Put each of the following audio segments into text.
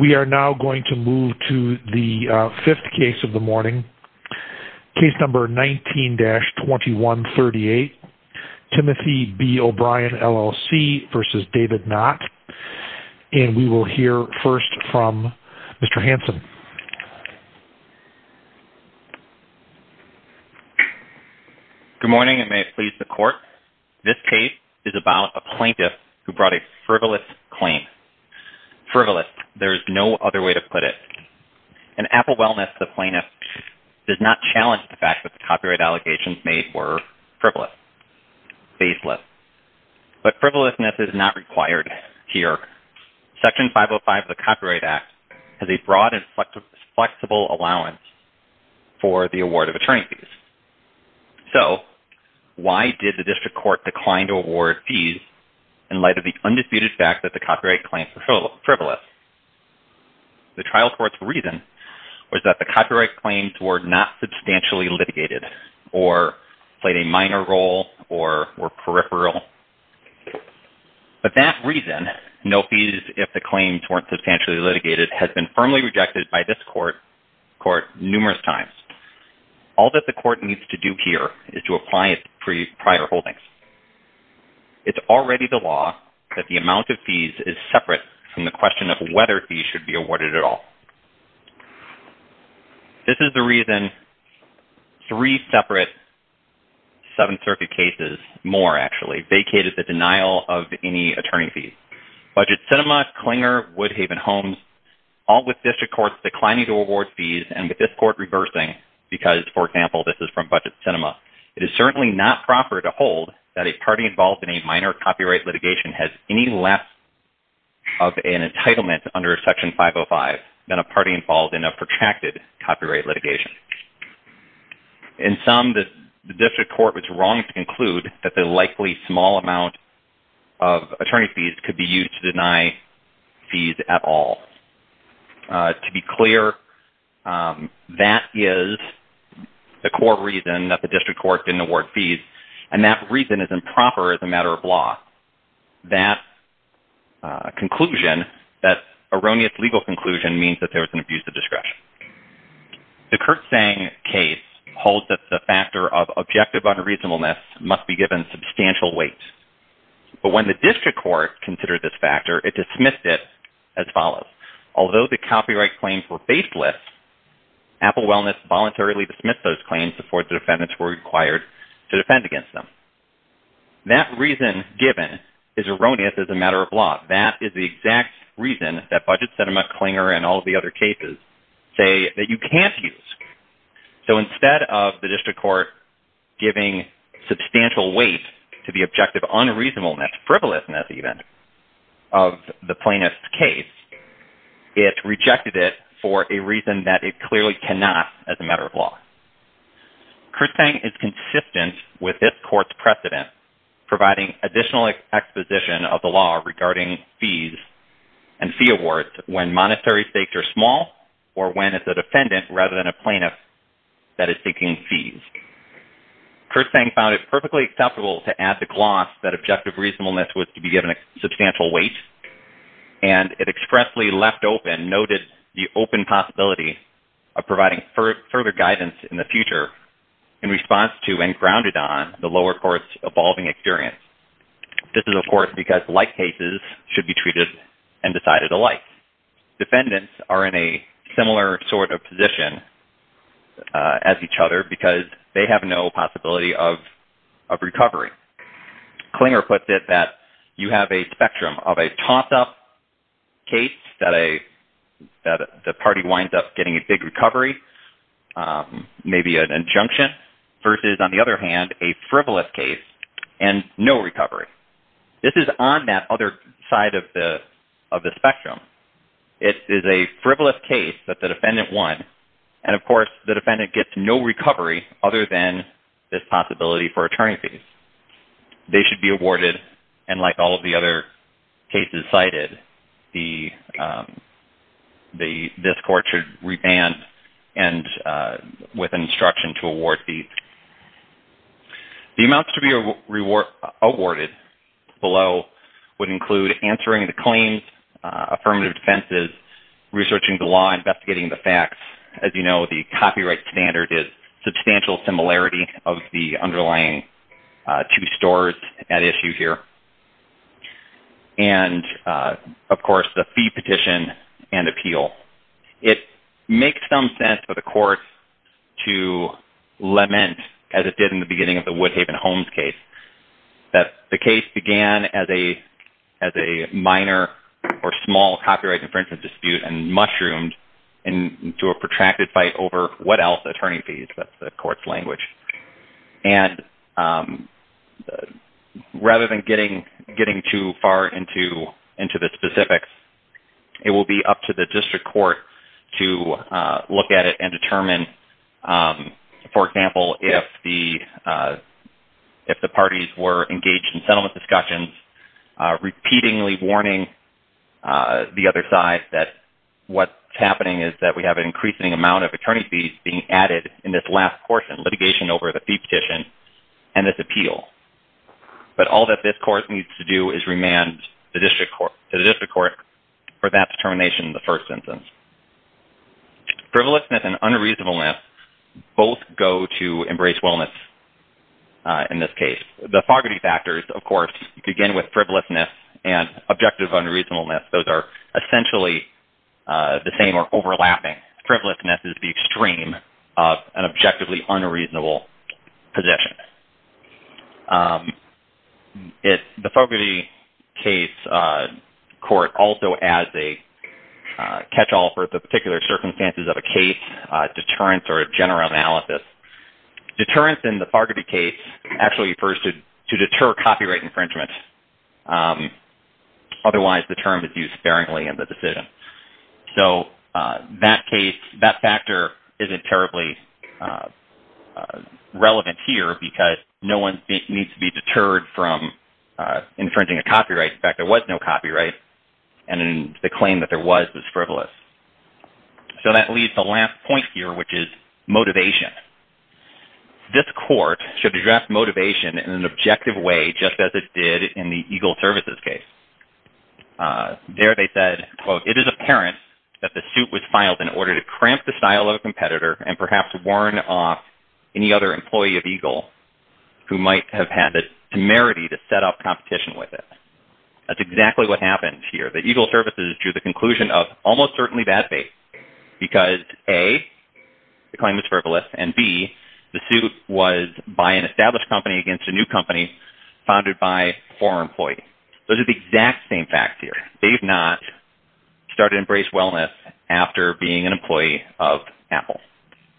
We are now going to move to the fifth case of the morning. Case number 19-2138, Timothy B. O'Brien LLC v. David Knott. And we will hear first from Mr. Hanson. Good morning and may it please the court. This case is about a plaintiff who brought a frivolous claim. Frivolous, there is no other way to put it. In Apple Wellness, the plaintiff does not challenge the fact that the copyright allegations made were frivolous, baseless. But frivolousness is not required here. Section 505 of the Copyright Act has a broad and flexible allowance for the award of attorney fees. So why did the district court decline to award fees in light of the undisputed fact that the copyright claims were frivolous? The trial court's reason was that the copyright claims were not substantially litigated or played a minor role or were peripheral. But that reason, no fees if the claims were not substantially litigated, has been firmly rejected by this court numerous times. All that the court needs to do here is to apply its prior holdings. It's already the law that the amount of fees is separate from the question of whether fees should be awarded at all. This is the reason three separate Seventh Circuit cases, more actually, vacated the denial of any attorney fees. Budget Cinema, Klinger, Woodhaven Homes, all with district courts declining to award fees and with this court reversing because, for example, this is from Budget Cinema, it is certainly not proper to hold that a party involved in a minor copyright litigation has any less of an entitlement under Section 505 than a party involved in a protracted copyright litigation. In some, the district court was wrong to conclude that the likely small amount of attorney fees could be used to deny fees at all. To be clear, that is the core reason that the district court didn't award fees, and that reason is improper as a matter of law. That conclusion, that erroneous legal conclusion, means that there was an abuse of discretion. The Kurtzsang case holds that the factor of objective unreasonableness must be given substantial weight, but when the district court considered this factor, it dismissed it as follows. Although the copyright claims were baseless, Apple Wellness voluntarily dismissed those claims before the defendants were required to defend against them. That reason given is erroneous as a matter of law. That is the exact reason that Budget Cinema, Klinger, and all of the other cases say that you can't use. Instead of the district court giving substantial weight to the objective unreasonableness, frivolousness even, of the plaintiff's case, it rejected it for a reason that it clearly cannot as a matter of law. Kurtzsang is consistent with this court's precedent, providing additional exposition of the law regarding fees and fee awards when monetary stakes are small or when it's a defendant rather than a plaintiff that is seeking fees. Kurtzsang found it perfectly acceptable to add the gloss that objective reasonableness was to be given substantial weight, and it expressly left open, noted the open possibility of providing further guidance in the future in response to and grounded on the lower court's evolving experience. This is, of course, because like cases should be treated and decided alike. Defendants are in a similar sort of position as each other because they have no possibility of recovery. Klinger puts it that you have a spectrum of a toss-up case that the party winds up getting a big recovery, maybe an injunction, versus, on the other hand, a frivolous case and no recovery. This is on that other side of the spectrum. It is a frivolous case that the defendant won, and, of course, the defendant gets no recovery other than this possibility for attorney fees. They should be awarded, and like all of the other cases cited, this court should revamp and with instruction to award fees. The amounts to be awarded below would include answering the claims, affirmative defenses, researching the law, and investigating the facts. As you know, the copyright standard is substantial similarity of the underlying two stores at issue here, and, of course, the fee petition and appeal. It makes some sense for the court to lament, as it did in the beginning of the Woodhaven-Holmes case, that the case began as a minor or small copyright infringement dispute and mushroomed into a protracted fight over, what else, attorney fees. That's the court's language. Rather than getting too far into the specifics, it will be up to the district court to look at it and determine, for example, if the parties were engaged in settlement discussions, repeatedly warning the other side that what's happening is that we have an increasing amount of attorney fees being added in this last portion, litigation over the fee petition and this appeal. But all that this court needs to do is remand the district court for that determination in the first instance. Frivolousness and unreasonableness both go to embrace wellness in this case. The Fogarty factors, of course, begin with frivolousness and objective unreasonableness. Those are essentially the same or overlapping. Frivolousness is the extreme of an objectively unreasonable position. The Fogarty case court also adds a catch-all for the particular circumstances of a case, deterrence or general analysis. Deterrence in the Fogarty case actually refers to deter copyright infringement. Otherwise, the term is used sparingly in the decision. So that factor isn't terribly relevant here because no one needs to be deterred from infringing a copyright. In fact, there was no copyright in the claim that there was this frivolous. So that leaves the last point here, which is motivation. This court should address motivation in an objective way, just as it did in the Eagle Services case. There they said, quote, it is apparent that the suit was filed in order to cramp the style of a competitor and perhaps warn off any other employee of Eagle who might have had the temerity to set up competition with it. That's exactly what happened here. The Eagle Services drew the conclusion of almost certainly bad faith because A, the claim was frivolous, and B, the suit was by an established company against a new company founded by a former employee. Those are the exact same facts here. They have not started to embrace wellness after being an employee of Apple.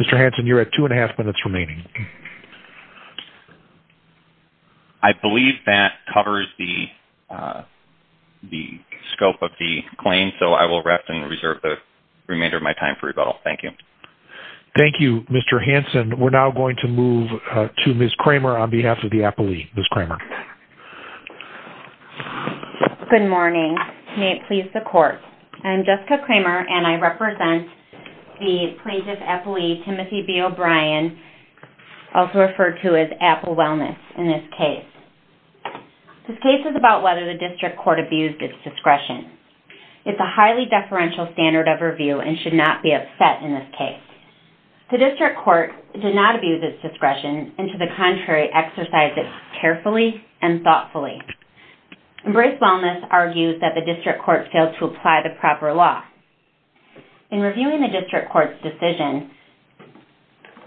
Mr. Hanson, you're at two and a half minutes remaining. I believe that covers the scope of the claim, so I will rest and reserve the remainder of my time for rebuttal. Thank you. Thank you, Mr. Hanson. We're now going to move to Ms. Kramer on behalf of the Apple League. Ms. Kramer. Good morning. May it please the Court. I'm Jessica Kramer, and I represent the plaintiff's employee, Timothy B. O'Brien, also referred to as Apple Wellness in this case. This case is about whether the district court abused its discretion. It's a highly deferential standard of review and should not be upset in this case. The district court did not abuse its discretion and, to the contrary, exercised it carefully and thoughtfully. Embrace Wellness argues that the district court failed to apply the proper law. In reviewing the district court's decision,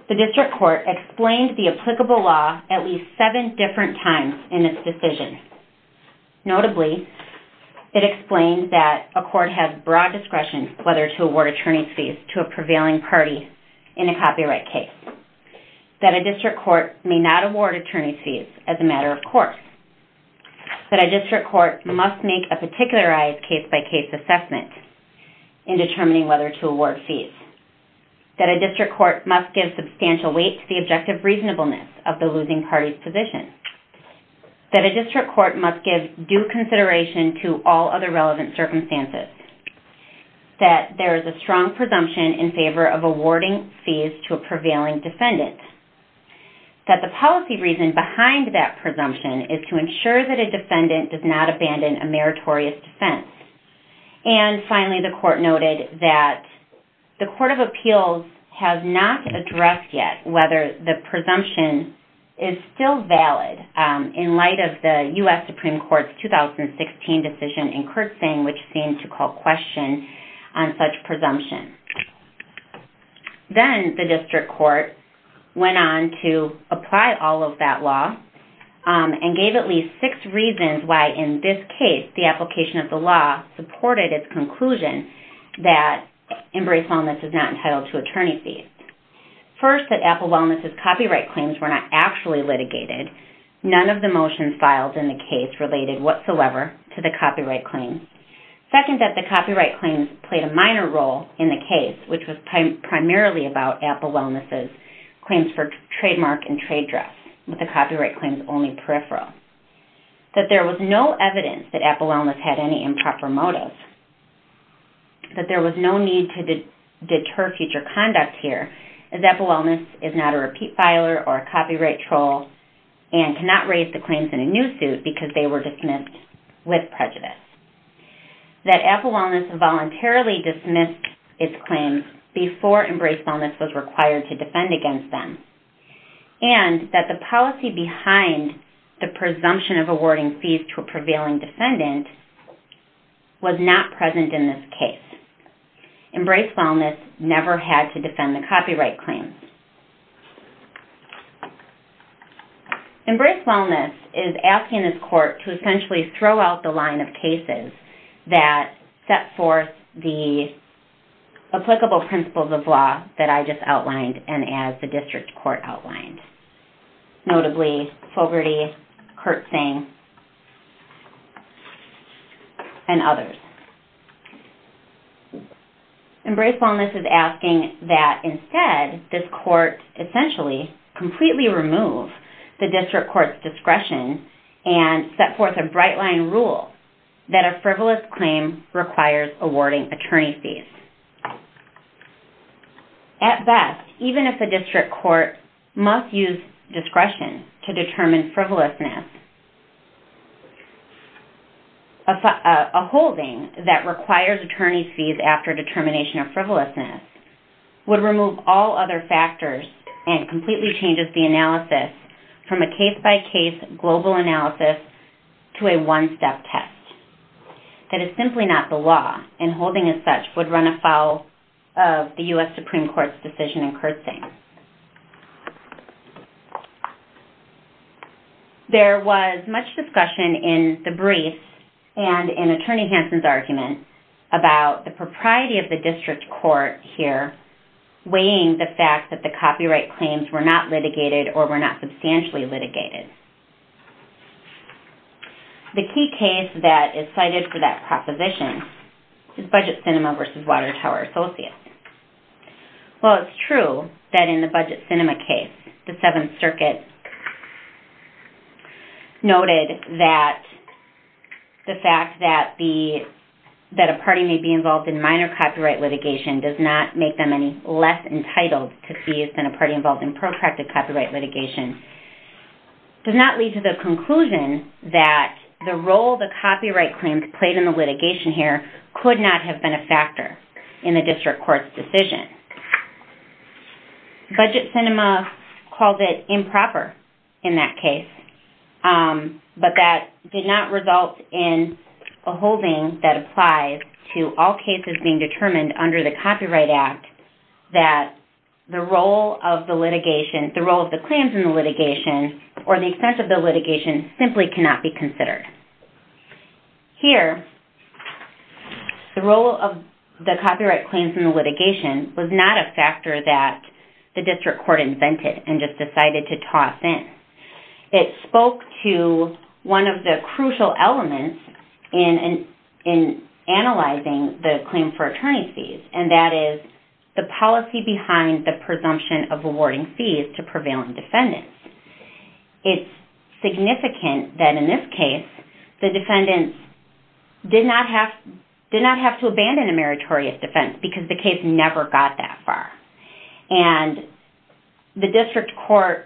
the district court explained the applicable law at least seven different times in its decision. Notably, it explained that a court has broad discretion whether to award attorney's fees to a prevailing party in a copyright case, that a district court may not award attorney's fees as a matter of course, that a district court must make a particularized case-by-case assessment in determining whether to award fees, that a district court must give substantial weight to the objective reasonableness of the losing party's position, that a district court must give due consideration to all other relevant circumstances, that there is a strong presumption in favor of awarding fees to a prevailing defendant, that the policy reason behind that presumption is to ensure that a defendant does not abandon a meritorious defense, and finally, the court noted that the Court of Appeals has not addressed yet whether the presumption is still valid in light of the U.S. Supreme Court's 2016 decision in Kurtzing, which seemed to call question on such presumption. Then, the district court went on to apply all of that law and gave at least six reasons why, in this case, the application of the law supported its conclusion that Embrace Wellness is not entitled to attorney's fees. First, that Apple Wellness's copyright claims were not actually litigated. None of the motions filed in the case related whatsoever to the copyright claims. Second, that the copyright claims played a minor role in the case, which was primarily about Apple Wellness's claims for trademark and trade dress, with the copyright claims only peripheral. That there was no evidence that Apple Wellness had any improper motives. That there was no need to deter future conduct here, as Apple Wellness is not a repeat filer or a copyright troll, and cannot raise the claims in a new suit because they were dismissed with prejudice. That Apple Wellness voluntarily dismissed its claims before Embrace Wellness was required to defend against them. And that the policy behind the presumption of awarding fees to a prevailing defendant was not present in this case. Embrace Wellness never had to defend the copyright claims. Embrace Wellness is asking this court to essentially throw out the line of cases that set forth the applicable principles of law that I just outlined and as the district court outlined. Notably, Fogarty, Kurtzing, and others. Embrace Wellness is asking that instead this court essentially completely remove the district court's discretion and set forth a bright line rule that a frivolous claim requires awarding attorney fees. At best, even if a district court must use discretion to determine frivolousness, a holding that requires attorney fees after determination of frivolousness would remove all other factors and completely changes the analysis from a case-by-case global analysis to a one-step test. That is simply not the law and holding as such would run afoul of the U.S. Supreme Court's decision in Kurtzing. There was much discussion in the brief and in Attorney Hanson's argument about the propriety of the district court here weighing the fact that the copyright claims were not litigated or were not substantially litigated. The key case that is cited for that proposition is Budget Cinema v. Water Tower Associates. It's true that in the Budget Cinema case, the Seventh Circuit noted that the fact that a party may be involved in minor copyright litigation does not make them any less entitled to fees than a party involved in protracted copyright litigation. It does not lead to the conclusion that the role the copyright claims played in the litigation here could not have been a factor in the district court's decision. Budget Cinema called it improper in that case, but that did not result in a holding that applies to all cases being determined under the Copyright Act that the role of the claims in the litigation or the extent of the litigation simply cannot be considered. Here, the role of the copyright claims in the litigation was not a factor that the district court invented and just decided to toss in. It spoke to one of the crucial elements in analyzing the claim for attorney fees and that is the policy behind the presumption of awarding fees to prevailing defendants. It's significant that in this case, the defendants did not have to abandon a meritorious defense because the case never got that far. The district court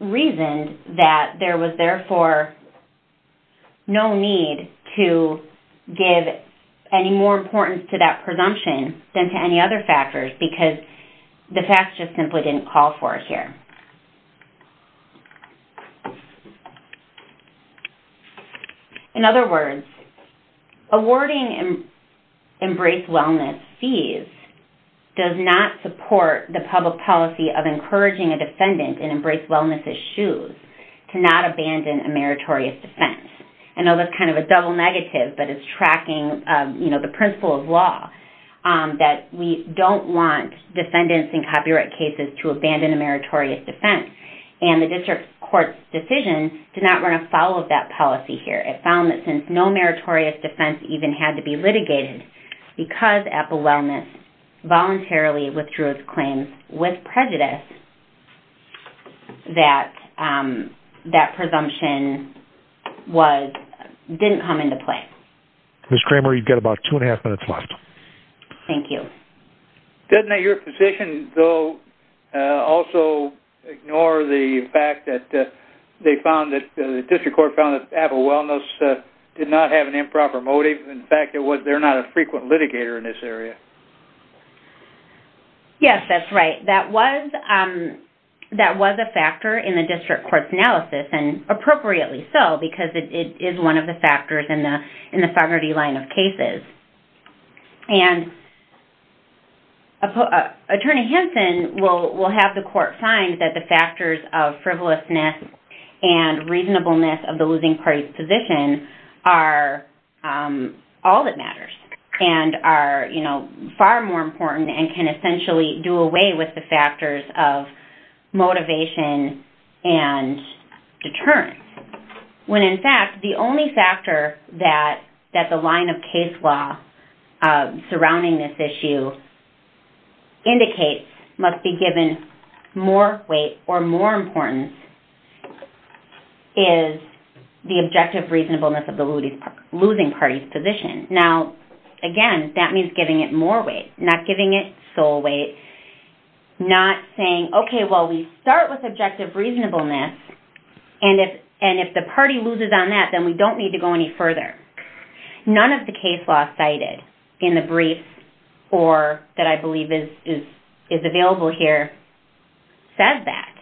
reasoned that there was therefore no need to give any more importance to that presumption than to any other factors because the facts just simply didn't call for it here. In other words, awarding Embrace Wellness fees does not support the public policy of encouraging a defendant in Embrace Wellness' shoes to not abandon a meritorious defense. I know that's kind of a double negative, but it's tracking the principle of law that we don't want defendants in copyright cases to abandon a meritorious defense. The district court's decision did not run afoul of that policy here. It found that since no meritorious defense even had to be litigated because Apple Wellness voluntarily withdrew its claims with prejudice, that that presumption didn't come into play. Ms. Kramer, you've got about two and a half minutes left. Thank you. Doesn't your position also ignore the fact that the district court found that Apple Wellness did not have an improper motive? In fact, they're not a frequent litigator in this area. Yes, that's right. That was a factor in the district court's analysis and appropriately so because it is one of the factors in the sovereignty line of cases. Attorney Henson will have the court find that the factors of frivolousness and reasonableness of the losing party's position are all that matters and are far more important and can essentially do away with the factors of motivation and deterrence. When in fact, the only factor that the line of case law surrounding this issue indicates must be given more weight or more importance is the objective reasonableness of the losing party's position. Now, again, that means giving it more weight, not giving it sole weight, not saying, okay, well, we start with objective reasonableness and if the party loses on that, then we don't need to go any further. None of the case law cited in the brief or that I believe is available here says that.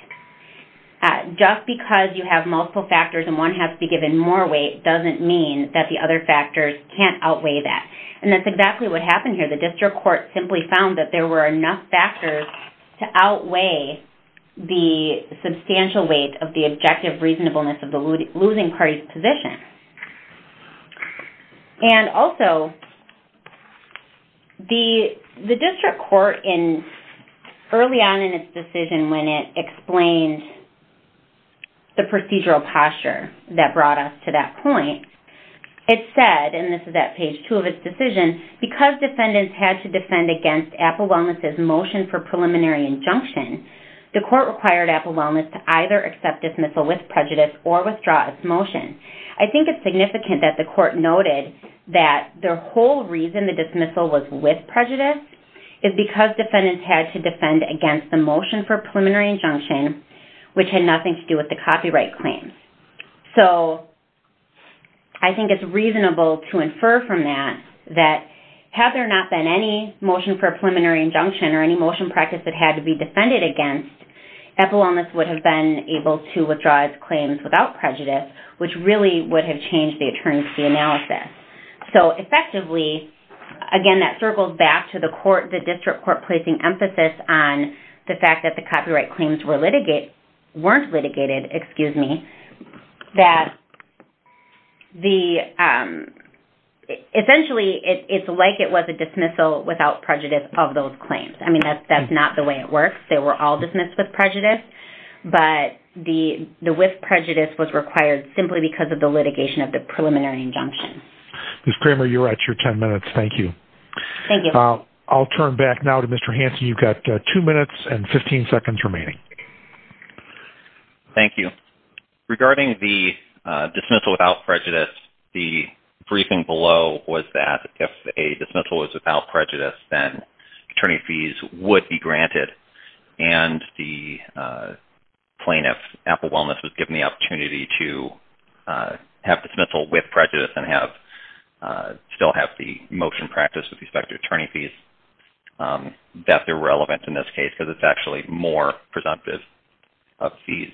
Just because you have multiple factors and one has to be given more weight doesn't mean that the other factors can't outweigh that. And that's exactly what happened here. The district court simply found that there were enough factors to outweigh the substantial weight of the objective reasonableness of the losing party's position. And also, the district court early on in its decision when it explained the procedural posture that brought us to that point, it said, and this is at page two of its decision, because defendants had to defend against Apple Wellness's motion for preliminary injunction, the court required Apple Wellness to either accept dismissal with prejudice or withdraw its motion. I think it's significant that the court noted that the whole reason the dismissal was with prejudice is because defendants had to defend against the motion for preliminary injunction, which had nothing to do with the copyright claim. So I think it's reasonable to infer from that that had there not been any motion for preliminary injunction or any motion practice that had to be defended against, Apple Wellness would have been able to withdraw its claims without prejudice, which really would have changed the attorney's analysis. So effectively, again, that circles back to the district court placing emphasis on the fact that the copyright claims weren't litigated, that essentially it's like it was a dismissal without prejudice of those claims. I mean, that's not the way it works. They were all dismissed with prejudice. But the with prejudice was required simply because of the litigation of the preliminary injunction. Ms. Kramer, you're at your 10 minutes. Thank you. Thank you. I'll turn back now to Mr. Hanson. You've got two minutes and 15 seconds remaining. Thank you. Regarding the dismissal without prejudice, the briefing below was that if a dismissal was without prejudice, then attorney fees would be granted and the plaintiff, Apple Wellness, was given the opportunity to have dismissal with prejudice and still have the motion practice with respect to attorney fees. That's irrelevant in this case because it's actually more presumptive of fees.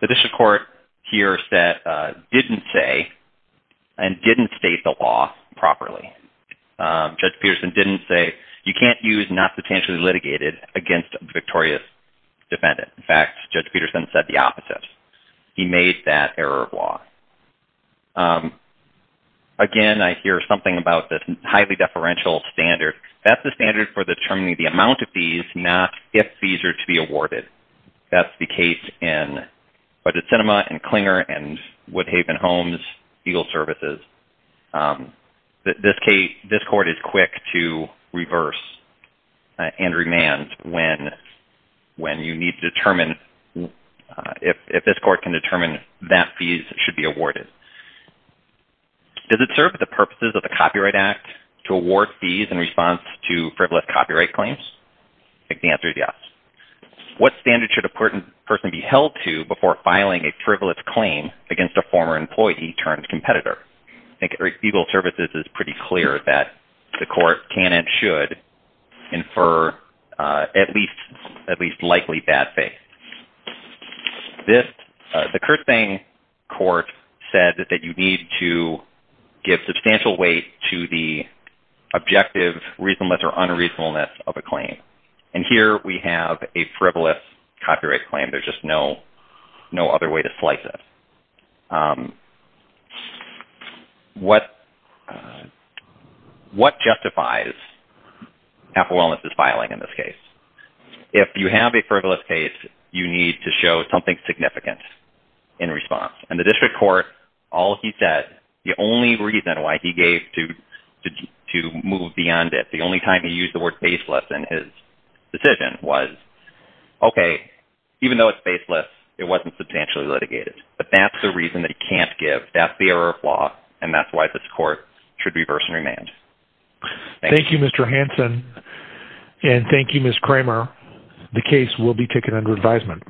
The district court here didn't say and didn't state the law properly. Judge Peterson didn't say you can't use not potentially litigated against a victorious defendant. In fact, Judge Peterson said the opposite. He made that error of law. Again, I hear something about this highly deferential standard. That's the standard for determining the amount of fees, not if fees are to be awarded. That's the case in Budget Cinema and Clinger and Woodhaven Homes, Eagle Services. This court is quick to reverse and remand when you need to determine if this court can determine that fees should be awarded. Does it serve the purposes of the Copyright Act to award fees in response to frivolous copyright claims? I think the answer is yes. What standard should a person be held to before filing a frivolous claim against a former employee turned competitor? I think Eagle Services is pretty clear that the court can and should infer at least likely bad faith. The Kerstang court said that you need to give substantial weight to the objective reasonableness or unreasonableness of a claim. Here we have a frivolous copyright claim. There's just no other way to slice it. What justifies affluent filing in this case? If you have a frivolous case, you need to show something significant in response. In the district court, all he said, the only reason why he gave to move beyond it, the only time he used the word baseless in his decision was, okay, even though it's baseless, it wasn't substantially litigated. But that's the reason that he can't give. That's the error of law, and that's why this court should reverse and remand. Thank you, Mr. Hanson, and thank you, Ms. Kramer. The case will be taken under advisement.